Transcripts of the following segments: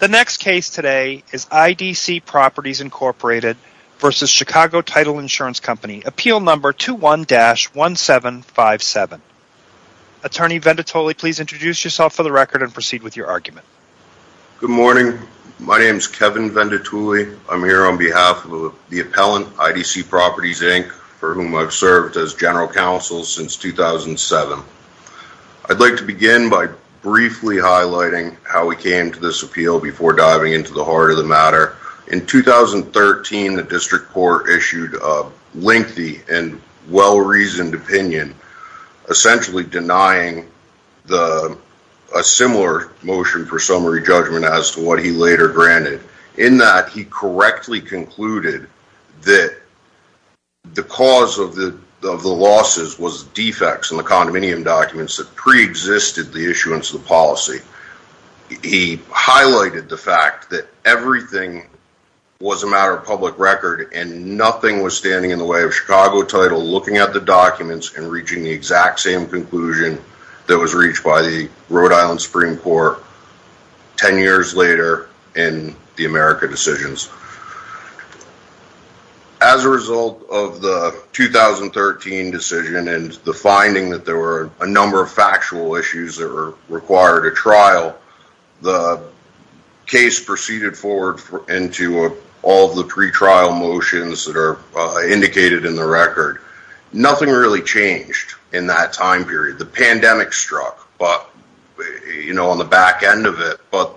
The next case today is IDC Properties, Inc. v. Chicago Title Insurance Company, Appeal Number 21-1757. Attorney Venditulli, please introduce yourself for the record and proceed with your argument. Good morning. My name is Kevin Venditulli. I'm here on behalf of the appellant, IDC Properties, Inc., for whom I've served as general counsel since 2007. I'd like to begin by briefly highlighting how we came to this appeal before diving into the heart of the matter. In 2013, the district court issued a lengthy and well-reasoned opinion, essentially denying a similar motion for summary judgment as to what he later granted. In that, he correctly concluded that the cause of the losses was defects in the condominium documents that preexisted the issuance of the policy. He highlighted the fact that everything was a matter of public record and nothing was standing in the way of Chicago Title looking at the documents and reaching the exact same conclusion that was reached by the Rhode Island Supreme Court 10 years later in the America decisions. As a result of the 2013 decision and the finding that there were a number of factual issues that were required at trial, the case proceeded forward into all the pretrial motions that are indicated in the record. Nothing really changed in that time period. The pandemic struck on the back end of it, but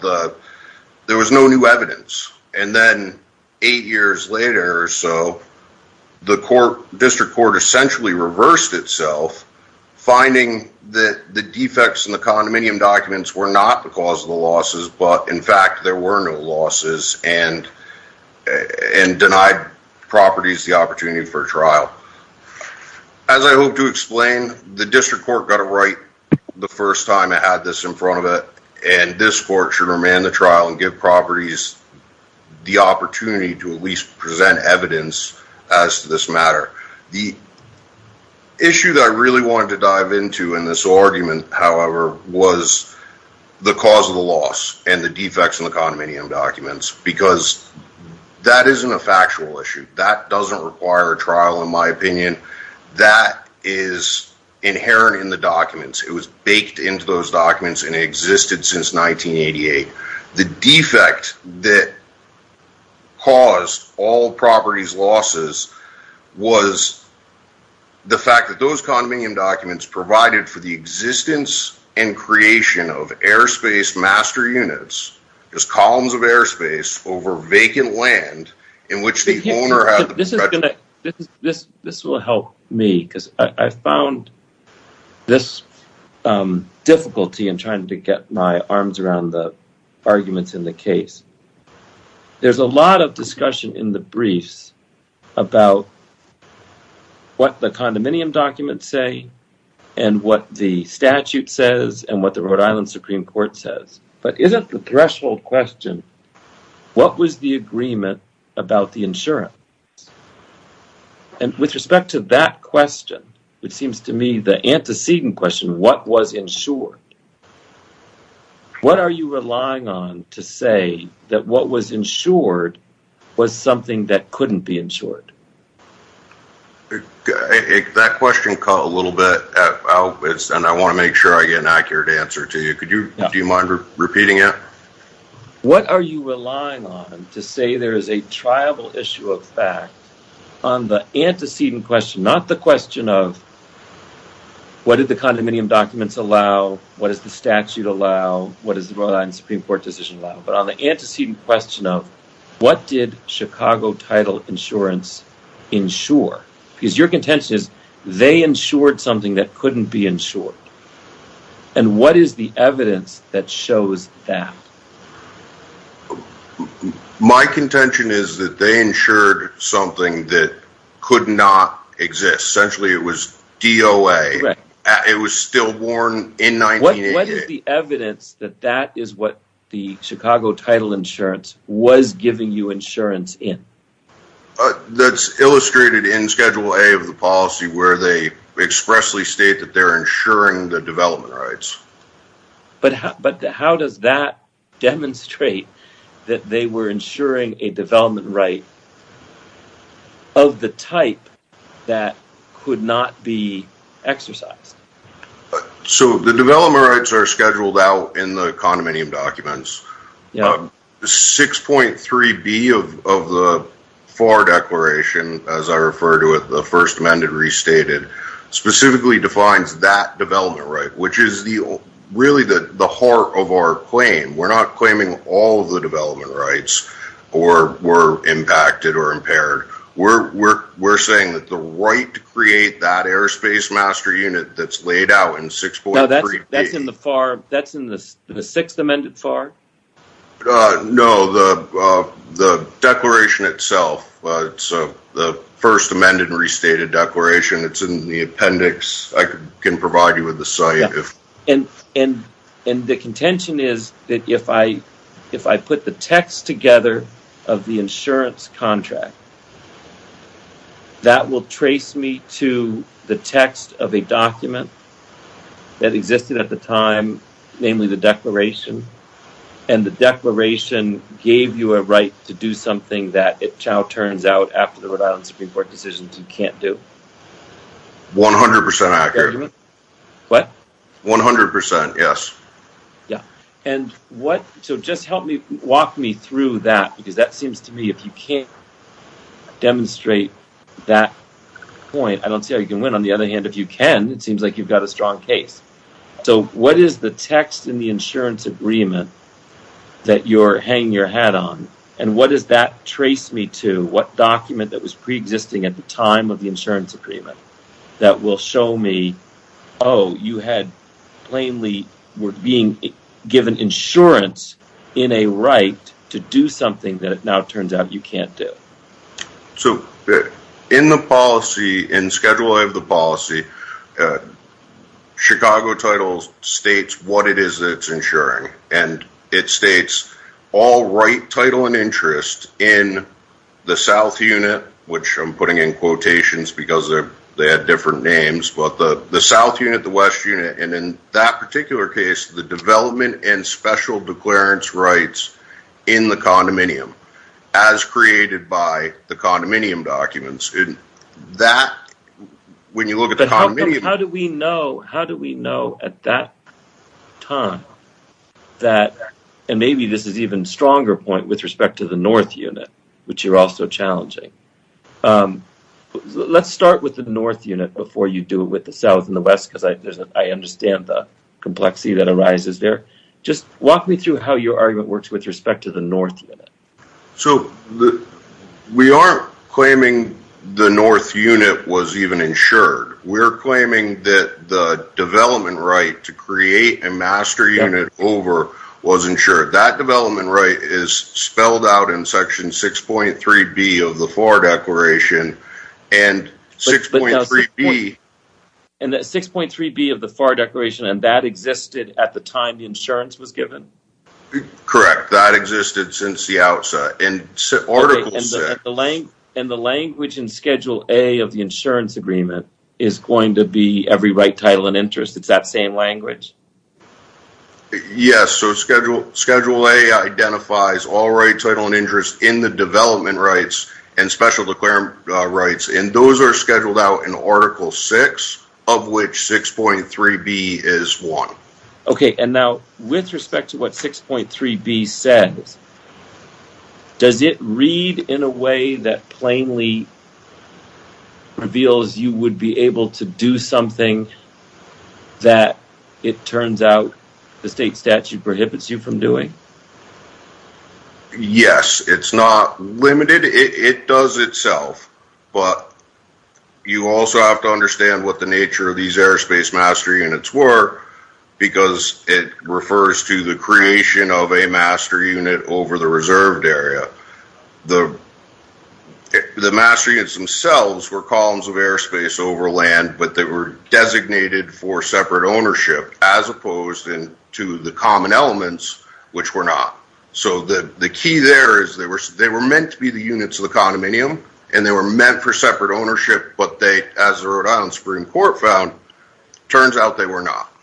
there was no new evidence. Eight years later or so, the district court essentially reversed itself, finding that the defects in the condominium documents were not the cause of the losses, but in fact, there were no losses and denied properties the opportunity for trial. As I hope to explain, the district court got it right the first time it had this in front of it, and this court should remand the trial and give properties the opportunity to at least present evidence as to this matter. The issue that I really wanted to dive into in this argument, however, was the cause of the loss and the defects in the condominium documents, because that isn't a factual issue. That doesn't require a trial, in my opinion. That is inherent in the documents. It was baked into those documents and existed since 1988. The defect that caused all properties' losses was the fact that those condominium documents provided for the existence and creation of airspace master units, just columns of airspace over vacant land in which the owner had the discretion. This will help me, because I found this difficulty in trying to get my arms around the arguments in the case. There's a lot of discussion in the briefs about what the condominium documents say and what the statute says and what the Rhode Island Supreme Court says, but isn't the threshold question, what was the agreement about the insurance? With respect to that question, which seems to me the antecedent question, what was insured? What are you relying on to say that what was insured was something that couldn't be insured? That question caught a little bit. I want to make sure I get an accurate answer to you. Do you mind repeating it? What are you relying on to say there is a triable issue of fact on the antecedent question, not the question of what did the condominium documents allow, what does the statute allow, what does the Rhode Island Supreme Court decision allow, but on the antecedent question of what did Chicago title insurance insure? Because your contention is they insured something that couldn't be insured. What is the evidence that shows that? My contention is that they insured something that could not exist. Essentially, it was DOA. It was still born in 1988. What is the evidence that that is what the Chicago title insurance was giving you insurance in? That's illustrated in Schedule A of the policy where they expressly state that they're insuring the development rights. But how does that demonstrate that they were insuring a development right of the type that could not be exercised? The development rights are scheduled out in the condominium documents. 6.3B of the FAR Declaration, as I refer to it, the First Amendment Restated, specifically defines that development right, which is really the heart of our claim. We're not claiming all of the development rights were impacted or impaired. We're saying that the right to create that airspace master unit that's laid out in 6.3B. That's in the sixth amended FAR? No, the declaration itself. It's the First Amendment Restated Declaration. It's in the appendix. I can provide you with the site. And the contention is that if I put the text together of the insurance contract, that will trace me to the text of a document that existed at the time, namely the declaration, and the declaration gave you a right to do something that it now turns out after the Rhode Island Supreme Court decision you can't do. 100% accurate. What? 100%, yes. Yeah. And what, so just help me, walk me through that, because that seems to me if you can't demonstrate that point, I don't see how you can win. On the other hand, if you can, it seems like you've got a strong case. So what is the text in the insurance agreement that you're hanging your hat on? And what does that trace me to? What document that was pre-existing at the time of the insurance agreement that will show me, oh, you had plainly were being given insurance in a right to do something that it now turns out you can't do? So in the policy, in Schedule A of the policy, Chicago title states what it is that it's insuring. And it states all right, title, and interest in the south unit, which I'm putting in quotations because they had different names, but the south unit, the west unit, and in that particular case, the development and special declarence rights in the condominium, as created by the condominium documents. When you look at the condominium. But how do we know at that time that, and maybe this is an even stronger point with respect to the north unit, which you're also challenging. Let's start with the north unit before you do it with the south and the west because I understand the complexity that arises there. Just walk me through how your argument works with respect to the north unit. So we aren't claiming the north unit was even insured. We're claiming that the development right to create a master unit over was insured. That development right is spelled out in Section 6.3b of the FAR Declaration. And 6.3b of the FAR Declaration, and that existed at the time the insurance was given? Correct. That existed since the outset. And the language in Schedule A of the insurance agreement is going to be every right, title, and interest. It's that same language. Yes. So Schedule A identifies all right, title, and interest in the development rights and special declarence rights, and those are scheduled out in Article 6, of which 6.3b is one. Okay, and now with respect to what 6.3b says, does it read in a way that plainly reveals you would be able to do something that it turns out the state statute prohibits you from doing? Yes, it's not limited. It does itself. But you also have to understand what the nature of these airspace master units were, because it refers to the creation of a master unit over the reserved area. The master units themselves were columns of airspace over land, but they were designated for separate ownership as opposed to the common elements, which were not. So the key there is they were meant to be the units of the condominium, and they were meant for separate ownership, but as the Rhode Island Supreme Court found, it turns out they were not.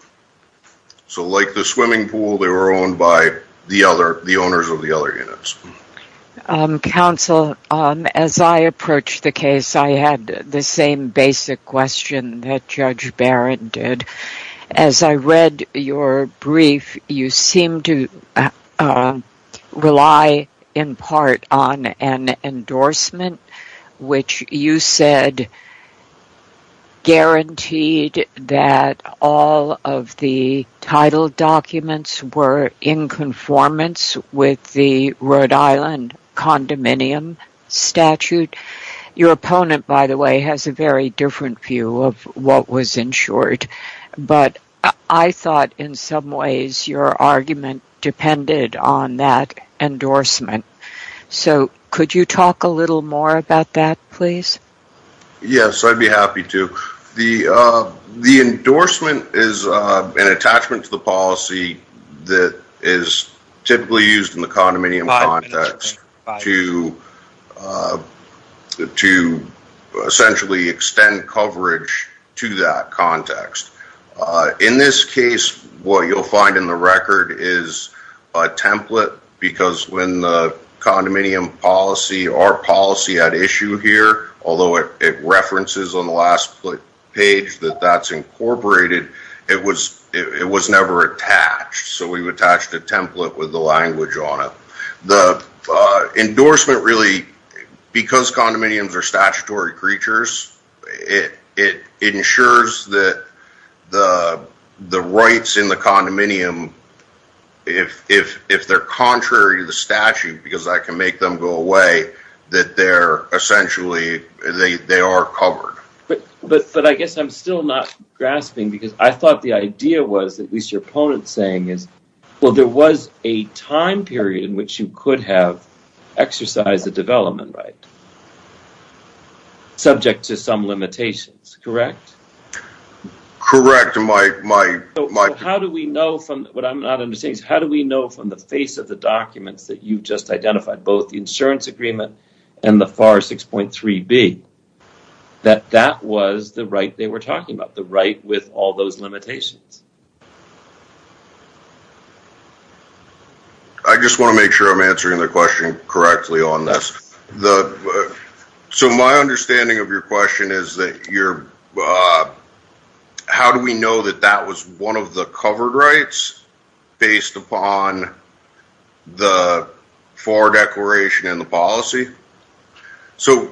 So like the swimming pool, they were owned by the owners of the other units. Counsel, as I approached the case, I had the same basic question that Judge Barrett did. As I read your brief, you seemed to rely in part on an endorsement, which you said guaranteed that all of the title documents were in conformance with the Rhode Island condominium statute. Your opponent, by the way, has a very different view of what was ensured, but I thought in some ways your argument depended on that endorsement. So could you talk a little more about that, please? Yes, I'd be happy to. The endorsement is an attachment to the policy that is typically used in the condominium context to essentially extend coverage to that context. In this case, what you'll find in the record is a template, because when the condominium policy, our policy at issue here, although it references on the last page that that's incorporated, it was never attached. So we've attached a template with the language on it. The endorsement really, because condominiums are statutory creatures, it ensures that the rights in the condominium, if they're contrary to the statute, because I can make them go away, that they're essentially, they are covered. But I guess I'm still not grasping, because I thought the idea was, at least your opponent's saying, is, well, there was a time period in which you could have exercised a development right, subject to some limitations, correct? Correct. How do we know from, what I'm not understanding, how do we know from the face of the documents that you just identified, both the insurance agreement and the FAR 6.3b, that that was the right they were talking about, the right with all those limitations? I just want to make sure I'm answering the question correctly on this. So my understanding of your question is that you're, how do we know that that was one of the covered rights based upon the FAR declaration and the policy? So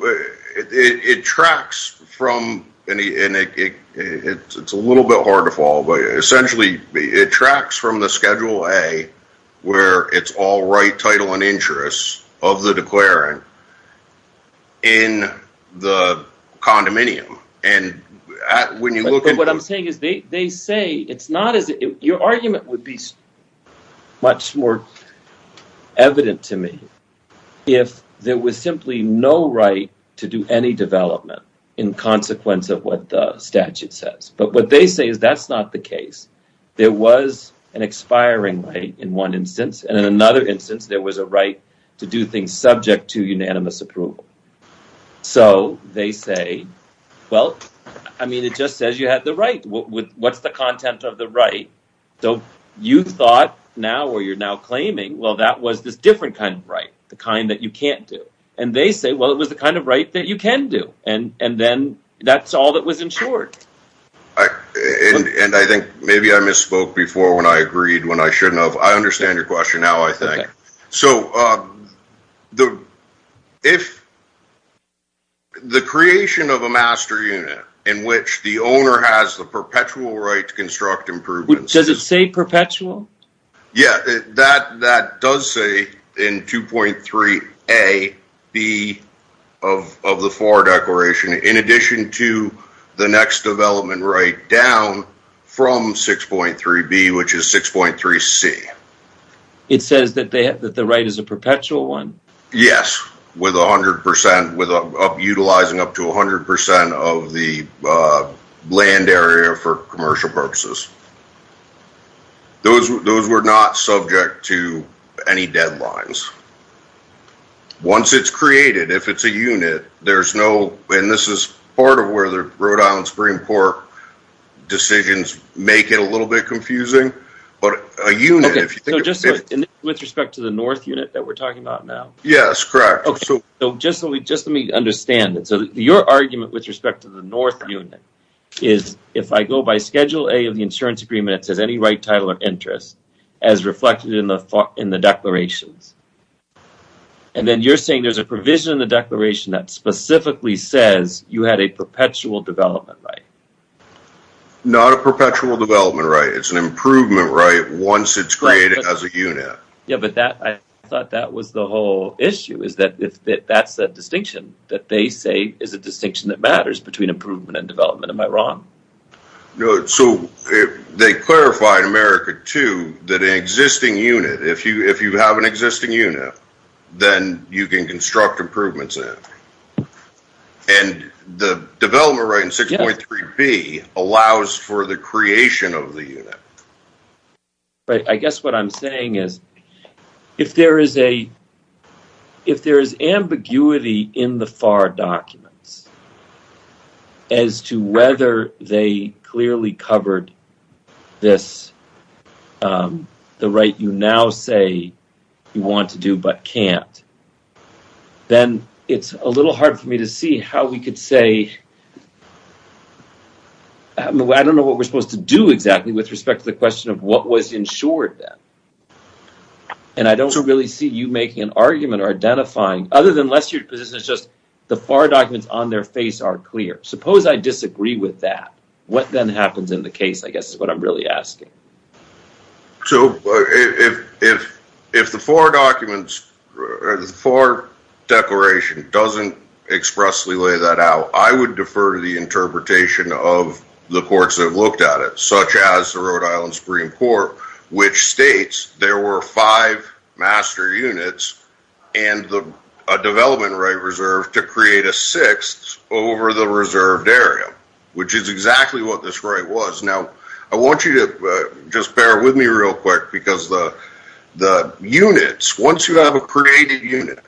it tracks from, and it's a little bit hard to follow, but essentially it tracks from the Schedule A, where it's all right title and interest of the declarant in the condominium. And when you look at… But what I'm saying is, they say, it's not as, your argument would be much more evident to me if there was simply no right to do any development in consequence of what the statute says. But what they say is that's not the case. There was an expiring right in one instance, and in another instance there was a right to do things subject to unanimous approval. So they say, well, I mean, it just says you had the right. What's the content of the right? So you thought now, or you're now claiming, well, that was this different kind of right, the kind that you can't do. And they say, well, it was the kind of right that you can do. And then that's all that was ensured. And I think maybe I misspoke before when I agreed, when I shouldn't have. I understand your question now, I think. So if the creation of a master unit in which the owner has the perpetual right to construct improvements… Does it say perpetual? Yeah, that does say in 2.3A, B of the FAR declaration, in addition to the next development right down from 6.3B, which is 6.3C. It says that the right is a perpetual one? Yes, utilizing up to 100% of the land area for commercial purposes. Those were not subject to any deadlines. Once it's created, if it's a unit, there's no… And this is part of where the Rhode Island Supreme Court decisions make it a little bit confusing. Okay, so just with respect to the north unit that we're talking about now? Yes, correct. Okay, so just let me understand it. So your argument with respect to the north unit is, if I go by Schedule A of the insurance agreement, it says any right, title, or interest, as reflected in the declarations. And then you're saying there's a provision in the declaration that specifically says you had a perpetual development right? Not a perpetual development right. It's an improvement right once it's created as a unit. Yeah, but I thought that was the whole issue, is that that's the distinction that they say is a distinction that matters between improvement and development. Am I wrong? No, so they clarify in America, too, that an existing unit, if you have an existing unit, then you can construct improvements in it. And the development right in 6.3b allows for the creation of the unit. Right, I guess what I'm saying is, if there is ambiguity in the FAR documents as to whether they clearly covered this, the right you now say you want to do but can't, then it's a little hard for me to see how we could say, I don't know what we're supposed to do exactly with respect to the question of what was insured then. And I don't really see you making an argument or identifying, other than unless your position is just the FAR documents on their face are clear. Suppose I disagree with that. What then happens in the case, I guess, is what I'm really asking. So if the FAR declaration doesn't expressly lay that out, I would defer to the interpretation of the courts that have looked at it, such as the Rhode Island Supreme Court, which states there were five master units and a development right reserve to create a sixth over the reserved area, which is exactly what this right was. Now, I want you to just bear with me real quick, because the units, once you have a created unit,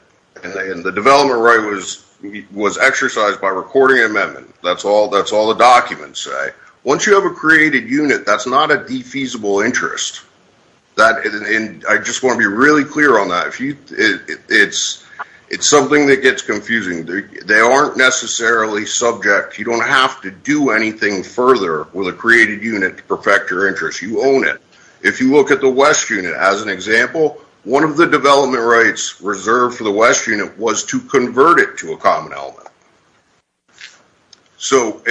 and the development right was exercised by recording amendment, that's all the documents say, once you have a created unit, that's not a defeasible interest. I just want to be really clear on that. It's something that gets confusing. They aren't necessarily subject. You don't have to do anything further with a created unit to perfect your interest. You own it. If you look at the West unit as an example, one of the development rights reserved for the West unit was to convert it to a common element. So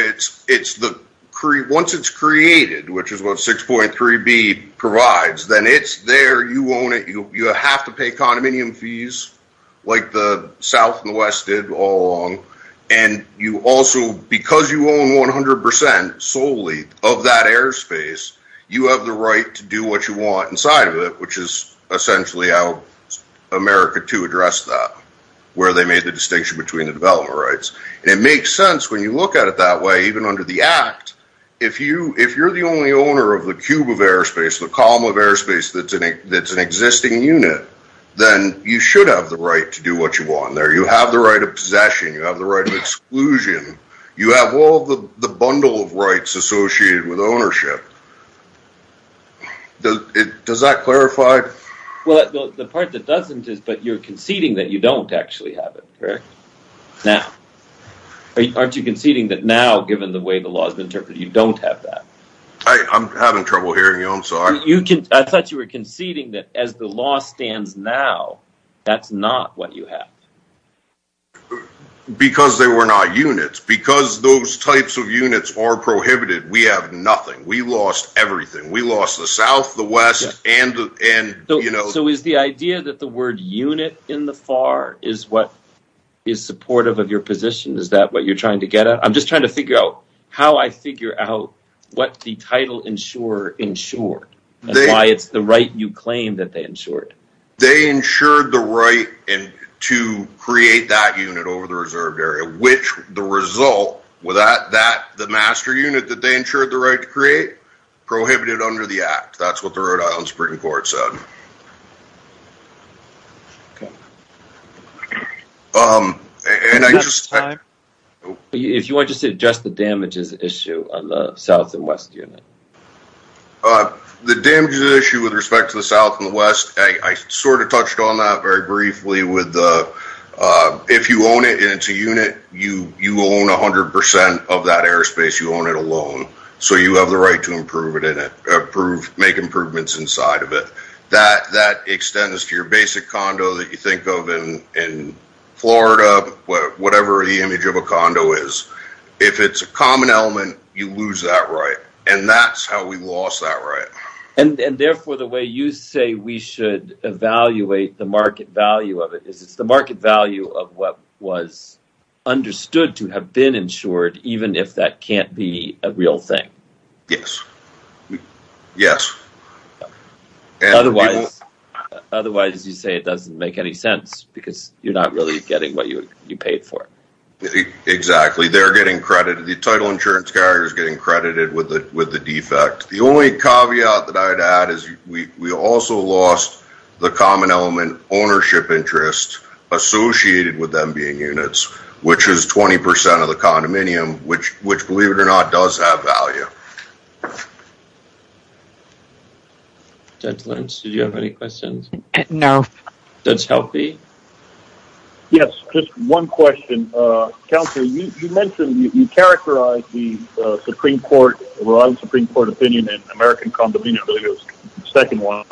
once it's created, which is what 6.3b provides, then it's there. You own it. You have to pay condominium fees like the South and the West did all along, and you also, because you own 100% solely of that airspace, you have the right to do what you want inside of it, which is essentially how America II addressed that, where they made the distinction between the development rights. And it makes sense when you look at it that way, even under the Act, if you're the only owner of the cube of airspace, the column of airspace that's an existing unit, then you should have the right to do what you want there. You have the right of possession. You have the right of exclusion. You have all the bundle of rights associated with ownership. Does that clarify? Well, the part that doesn't is that you're conceding that you don't actually have it, correct? Now. Aren't you conceding that now, given the way the law's been interpreted, you don't have that? I'm having trouble hearing you, I'm sorry. I thought you were conceding that as the law stands now, that's not what you have. Because they were not units. Because those types of units are prohibited, we have nothing. We lost everything. We lost the South, the West, and, you know. So is the idea that the word unit in the FAR is what is supportive of your position? Is that what you're trying to get at? I'm just trying to figure out how I figure out what the title insurer insured, and why it's the right you claim that they insured. They insured the right to create that unit over the reserved area, which the result, the master unit that they insured the right to create, prohibited under the Act. That's what the Rhode Island Supreme Court said. If you want to just address the damages issue on the South and West unit. The damages issue with respect to the South and the West, I sort of touched on that very briefly. If you own it and it's a unit, you own 100% of that airspace, you own it alone. So you have the right to improve it, make improvements inside of it. That extends to your basic condo that you think of in Florida, whatever the image of a condo is. If it's a common element, you lose that right. And that's how we lost that right. And therefore, the way you say we should evaluate the market value of it, is it's the market value of what was understood to have been insured, even if that can't be a real thing. Yes. Yes. Otherwise, you say it doesn't make any sense, because you're not really getting what you paid for. Exactly. They're getting credited. The title insurance carrier is getting credited with the defect. The only caveat that I'd add is we also lost the common element ownership interest associated with them being units, which is 20% of the condominium, which, believe it or not, does have value. Judge Lynch, do you have any questions? No. Judge Helpe? Yes, just one question. Counselor, you mentioned, you characterized the Supreme Court, Rhode Island Supreme Court opinion, and American condominiums, the second one,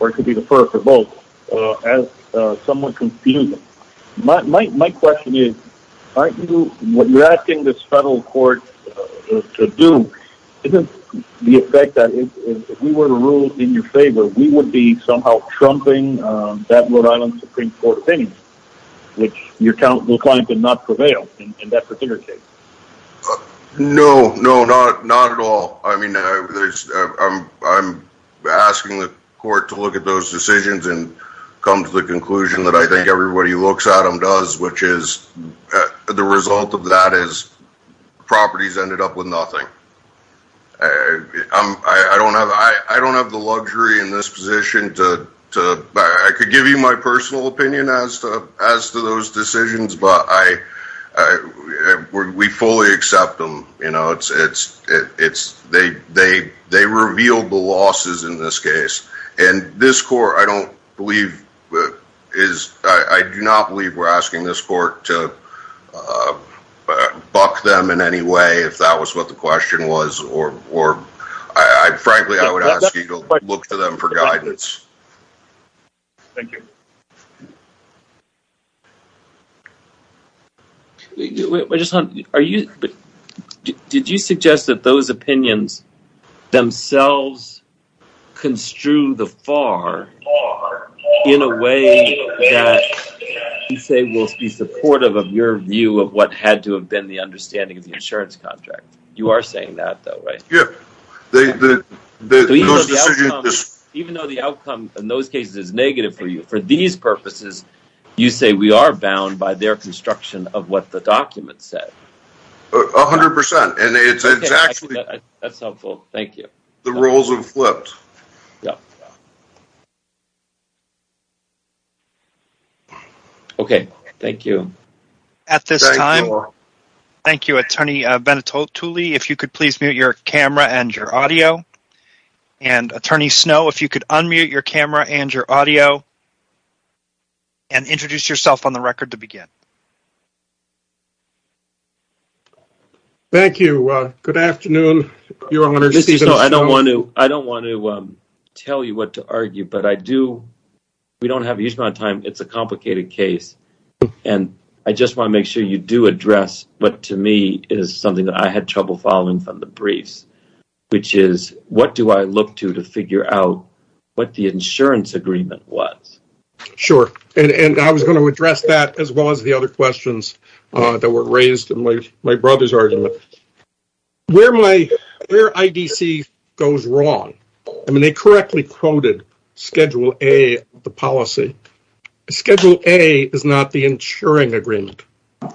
or it could be the first or both, as somewhat confusing. My question is, aren't you, what you're asking this federal court to do, isn't the effect that if we were to rule in your favor, we would be somehow trumping that Rhode Island Supreme Court opinion, which your client did not prevail in that particular case? No. No, not at all. I mean, I'm asking the court to look at those decisions and come to the conclusion that I think everybody who looks at them does, which is, the result of that is properties ended up with nothing. I don't have the luxury in this position to, I could give you my personal opinion as to those decisions, but we fully accept them. They revealed the losses in this case. And this court, I don't believe, I do not believe we're asking this court to buck them in any way, if that was what the question was, or frankly, I would ask you to look to them for guidance. Thank you. Did you suggest that those opinions themselves construe the FAR in a way that you say will be supportive of your view of what had to have been the understanding of the insurance contract? You are saying that though, right? Yeah. Even though the outcome in those cases is negative for you, for these purposes, you say we are bound by their construction of what the document said. 100%. That's helpful. Thank you. The roles have flipped. Yeah. Okay. Thank you. At this time. Thank you, Attorney Benito Tulley, if you could please mute your camera and your audio. And Attorney Snow, if you could unmute your camera and your audio. And introduce yourself on the record to begin. Thank you. Good afternoon. I don't want to tell you what to argue, but I do. We don't have a huge amount of time. It's a complicated case. And I just want to make sure you do address what to me is something that I had trouble following from the briefs, which is what do I look to to figure out what the insurance agreement was? Sure. And I was going to address that as well as the other questions that were raised. My brother's argument. Where my IDC goes wrong. I mean, they correctly quoted schedule A, the policy. Schedule A is not the insuring agreement.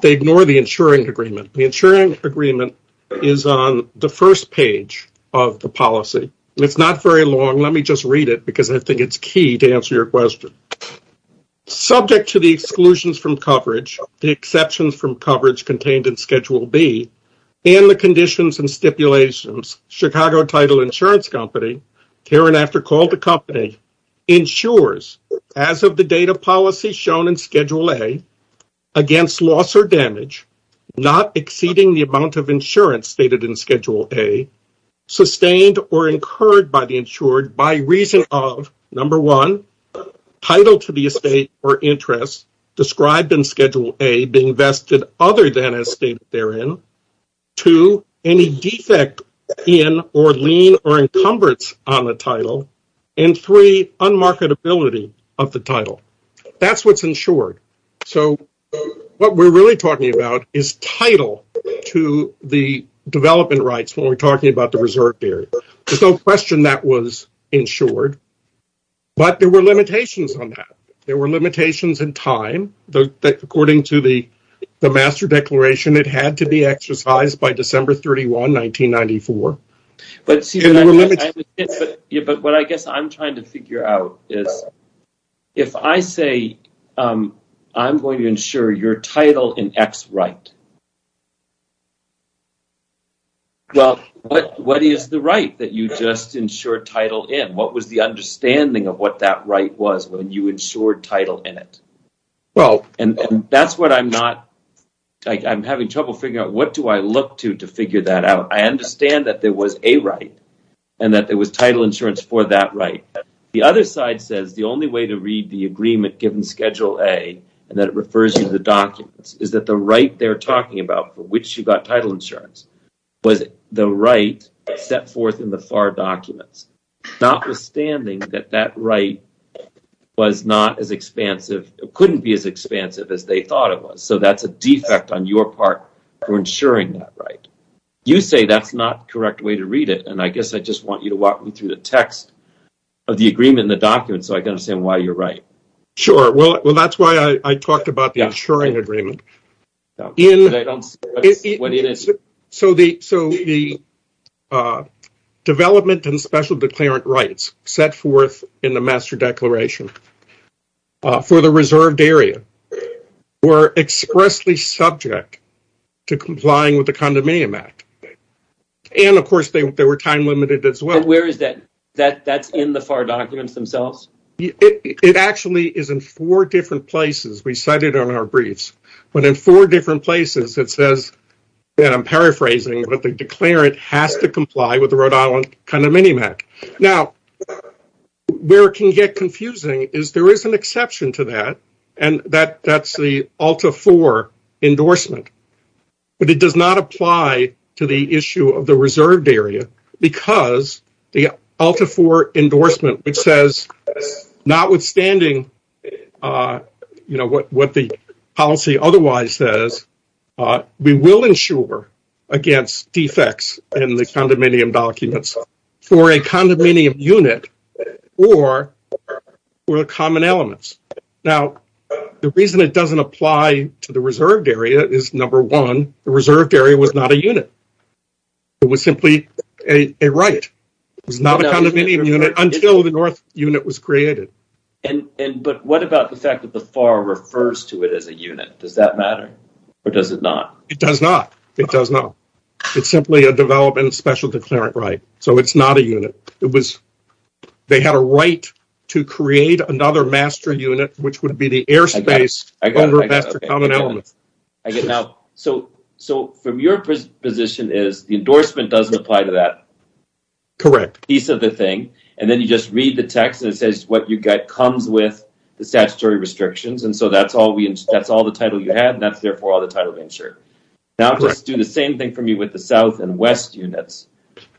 They ignore the insuring agreement. The insuring agreement is on the first page of the policy. It's not very long. Let me just read it because I think it's key to answer your question. Subject to the exclusions from coverage, the exceptions from coverage contained in Schedule B, and the conditions and stipulations, Chicago Title Insurance Company, hereinafter called the company, insures, as of the date of policy shown in Schedule A, against loss or damage, not exceeding the amount of insurance stated in Schedule A, sustained or incurred by the insured by reason of, number one, title to the estate or interest described in Schedule A being vested other than as stated therein. Two, any defect in or lien or encumbrance on the title. And three, unmarketability of the title. That's what's insured. So, what we're really talking about is title to the development rights when we're talking about the reserve area. There's no question that was insured. But there were limitations on that. There were limitations in time. According to the master declaration, it had to be exercised by December 31, 1994. But what I guess I'm trying to figure out is if I say I'm going to insure your title in X right, what is the right that you just insured title in? What was the understanding of what that right was when you insured title in it? And that's what I'm not – I'm having trouble figuring out what do I look to to figure that out. I understand that there was a right and that there was title insurance for that right. The other side says the only way to read the agreement given Schedule A and that it refers to the documents is that the right they're talking about for which you got title insurance was the right set forth in the FAR documents. Notwithstanding that that right was not as expansive – couldn't be as expansive as they thought it was. So that's a defect on your part for insuring that right. You say that's not the correct way to read it. And I guess I just want you to walk me through the text of the agreement and the documents so I can understand why you're right. Sure. Well, that's why I talked about the insuring agreement. I don't see what it is. So the development and special declarant rights set forth in the master declaration for the reserved area were expressly subject to complying with the Condominium Act. And, of course, they were time-limited as well. Where is that? That's in the FAR documents themselves? It actually is in four different places. We cite it on our briefs. But in four different places, it says – and I'm paraphrasing – that the declarant has to comply with the Rhode Island Condominium Act. Now, where it can get confusing is there is an exception to that, and that's the ULTA IV endorsement. But it does not apply to the issue of the reserved area because the ULTA IV endorsement, which says notwithstanding what the policy otherwise says, we will insure against defects in the condominium documents for a condominium unit or for the common elements. Now, the reason it doesn't apply to the reserved area is, number one, the reserved area was not a unit. It was simply a right. It was not a condominium unit until the north unit was created. But what about the fact that the FAR refers to it as a unit? Does that matter, or does it not? It does not. It does not. It's simply a development and special declarant right, so it's not a unit. They had a right to create another master unit, which would be the airspace under master common elements. So, from your position, the endorsement doesn't apply to that piece of the thing. And then you just read the text, and it says what you get comes with the statutory restrictions. And so that's all the title you have, and that's therefore all the title to insure. Now, just do the same thing for me with the south and west units.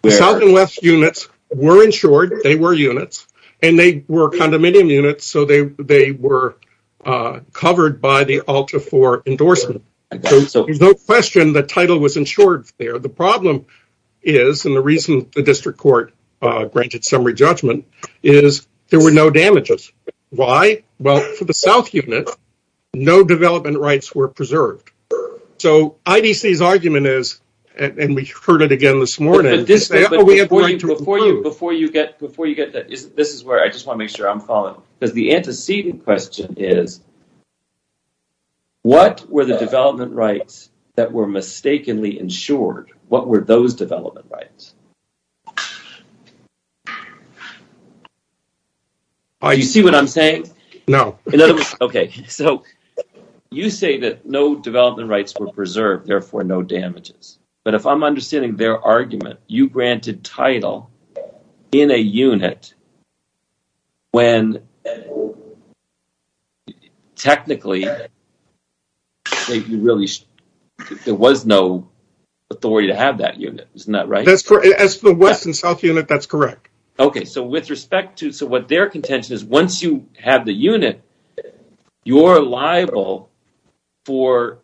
The south and west units were insured. They were units. And they were condominium units, so they were covered by the ULTA IV endorsement. So there's no question the title was insured there. The problem is, and the reason the district court granted summary judgment, is there were no damages. Why? Well, for the south unit, no development rights were preserved. So IDC's argument is, and we heard it again this morning, Before you get that, this is where I just want to make sure I'm following. Because the antecedent question is, what were the development rights that were mistakenly insured? What were those development rights? Do you see what I'm saying? No. Okay, so you say that no development rights were preserved, therefore no damages. But if I'm understanding their argument, you granted title in a unit when technically there was no authority to have that unit. Isn't that right? As for the west and south unit, that's correct. Okay, so what their contention is, once you have the unit, you're liable for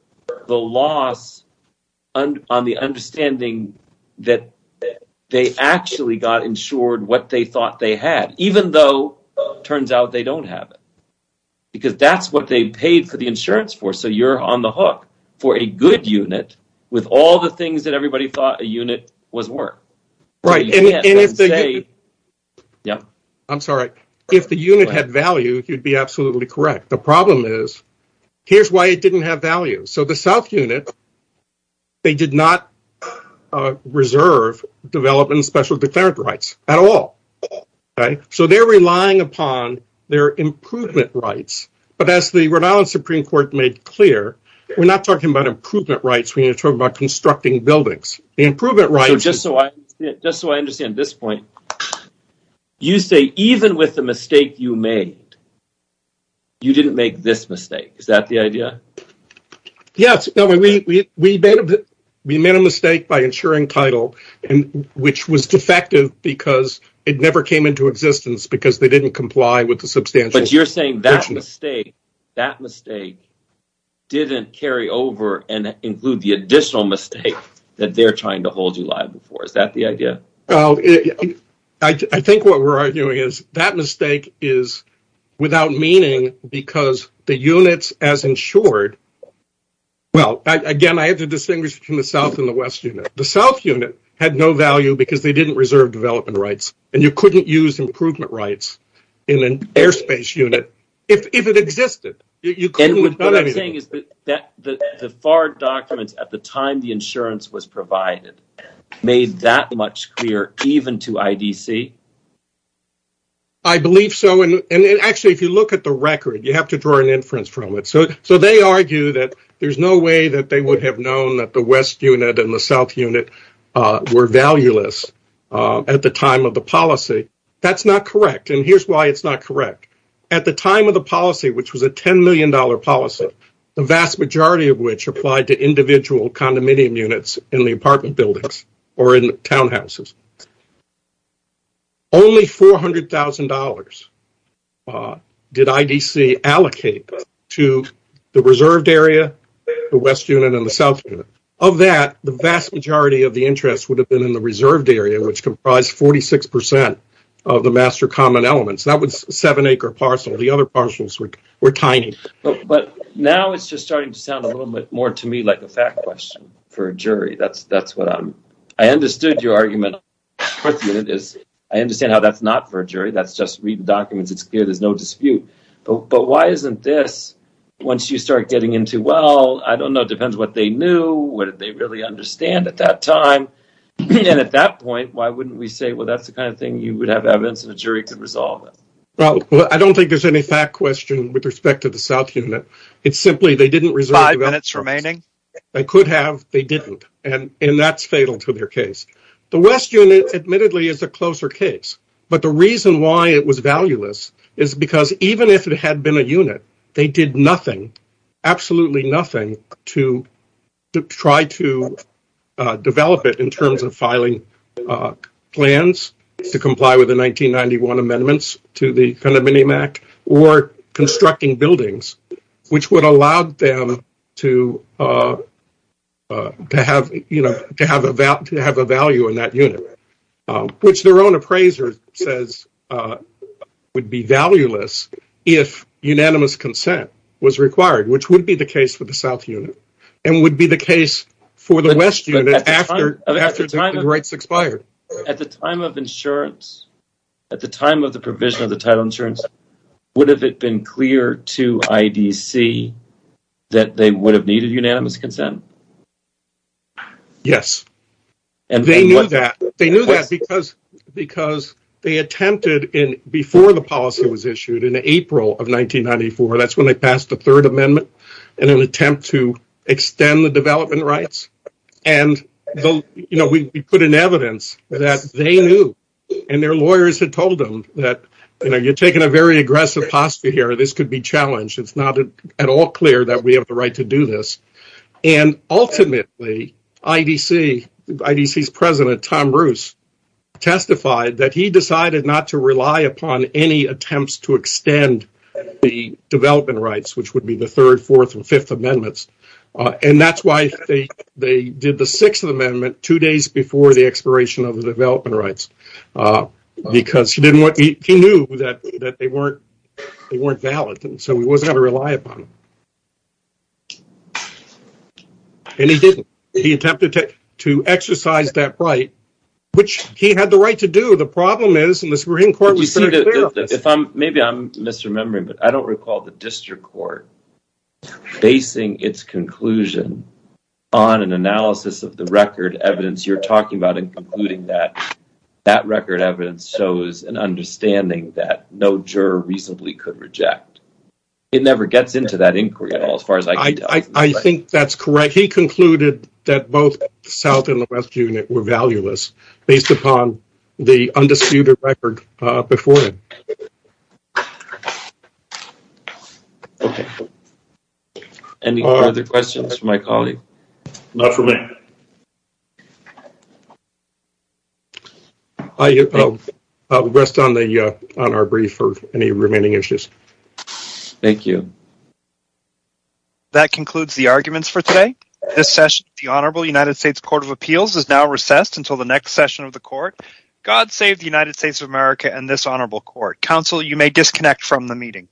the loss on the understanding that they actually got insured what they thought they had. Even though it turns out they don't have it. Because that's what they paid for the insurance for. So you're on the hook for a good unit with all the things that everybody thought a unit was worth. I'm sorry. If the unit had value, you'd be absolutely correct. The problem is, here's why it didn't have value. So the south unit, they did not reserve development and special declarant rights at all. So they're relying upon their improvement rights. But as the Rhode Island Supreme Court made clear, we're not talking about improvement rights. We're talking about constructing buildings. Just so I understand this point, you say even with the mistake you made, you didn't make this mistake. Is that the idea? Yes. We made a mistake by insuring title, which was defective because it never came into existence because they didn't comply with the substantial. But you're saying that mistake didn't carry over and include the additional mistake that they're trying to hold you liable for. Is that the idea? I think what we're arguing is that mistake is without meaning because the units as insured. Well, again, I have to distinguish between the south and the west unit. The south unit had no value because they didn't reserve development rights. And you couldn't use improvement rights in an airspace unit if it existed. And what I'm saying is that the FAR documents at the time the insurance was provided made that much clear even to IDC. I believe so. And actually, if you look at the record, you have to draw an inference from it. So they argue that there's no way that they would have known that the west unit and the south unit were valueless at the time of the policy. That's not correct. And here's why it's not correct. At the time of the policy, which was a $10 million policy, the vast majority of which applied to individual condominium units in the apartment buildings or in townhouses. Only $400,000 did IDC allocate to the reserved area, the west unit and the south unit. Of that, the vast majority of the interest would have been in the reserved area, which comprised 46 percent of the master common elements. That was a seven acre parcel. The other parcels were tiny. But now it's just starting to sound a little bit more to me like a fact question for a jury. I understood your argument. I understand how that's not for a jury. That's just reading documents. It's clear there's no dispute. But why isn't this, once you start getting into, well, I don't know, it depends what they knew, what did they really understand at that time. And at that point, why wouldn't we say, well, that's the kind of thing you would have evidence in a jury to resolve it? Well, I don't think there's any fact question with respect to the south unit. It's simply they didn't reserve. Five minutes remaining. They could have. They didn't. And that's fatal to their case. The west unit, admittedly, is a closer case. But the reason why it was valueless is because even if it had been a unit, they did nothing, absolutely nothing, to try to develop it in terms of filing plans to comply with the 1991 amendments to the Minimac or constructing buildings, which would allow them to have a value in that unit, which their own appraiser says would be valueless if unanimous consent was required, which would be the case for the south unit and would be the case for the west unit after the rights expired. At the time of insurance, at the time of the provision of the title insurance, would have it been clear to IDC that they would have needed unanimous consent? Yes. And they knew that they knew that because because they attempted in before the policy was issued in April of 1994. That's when they passed the Third Amendment and an attempt to extend the development rights. And, you know, we put in evidence that they knew and their lawyers had told them that, you know, you're taking a very aggressive posture here. This could be challenged. It's not at all clear that we have the right to do this. And ultimately, IDC, IDC's president, Tom Bruce, testified that he decided not to rely upon any attempts to extend the development rights, which would be the third, fourth and fifth amendments. And that's why they did the sixth amendment two days before the expiration of the development rights, because he knew that they weren't they weren't valid. So he wasn't going to rely upon. And he didn't. He attempted to exercise that right, which he had the right to do. Maybe I'm misremembering, but I don't recall the district court basing its conclusion on an analysis of the record evidence you're talking about and concluding that that record evidence shows an understanding that no juror reasonably could reject. It never gets into that inquiry at all. I think that's correct. He concluded that both South and the West unit were valueless based upon the undisputed record before. Any other questions for my colleague? Not for me. I will rest on the on our brief for any remaining issues. Thank you. That concludes the arguments for today. This session, the Honorable United States Court of Appeals is now recessed until the next session of the court. God save the United States of America and this honorable court council. You may disconnect from the meeting.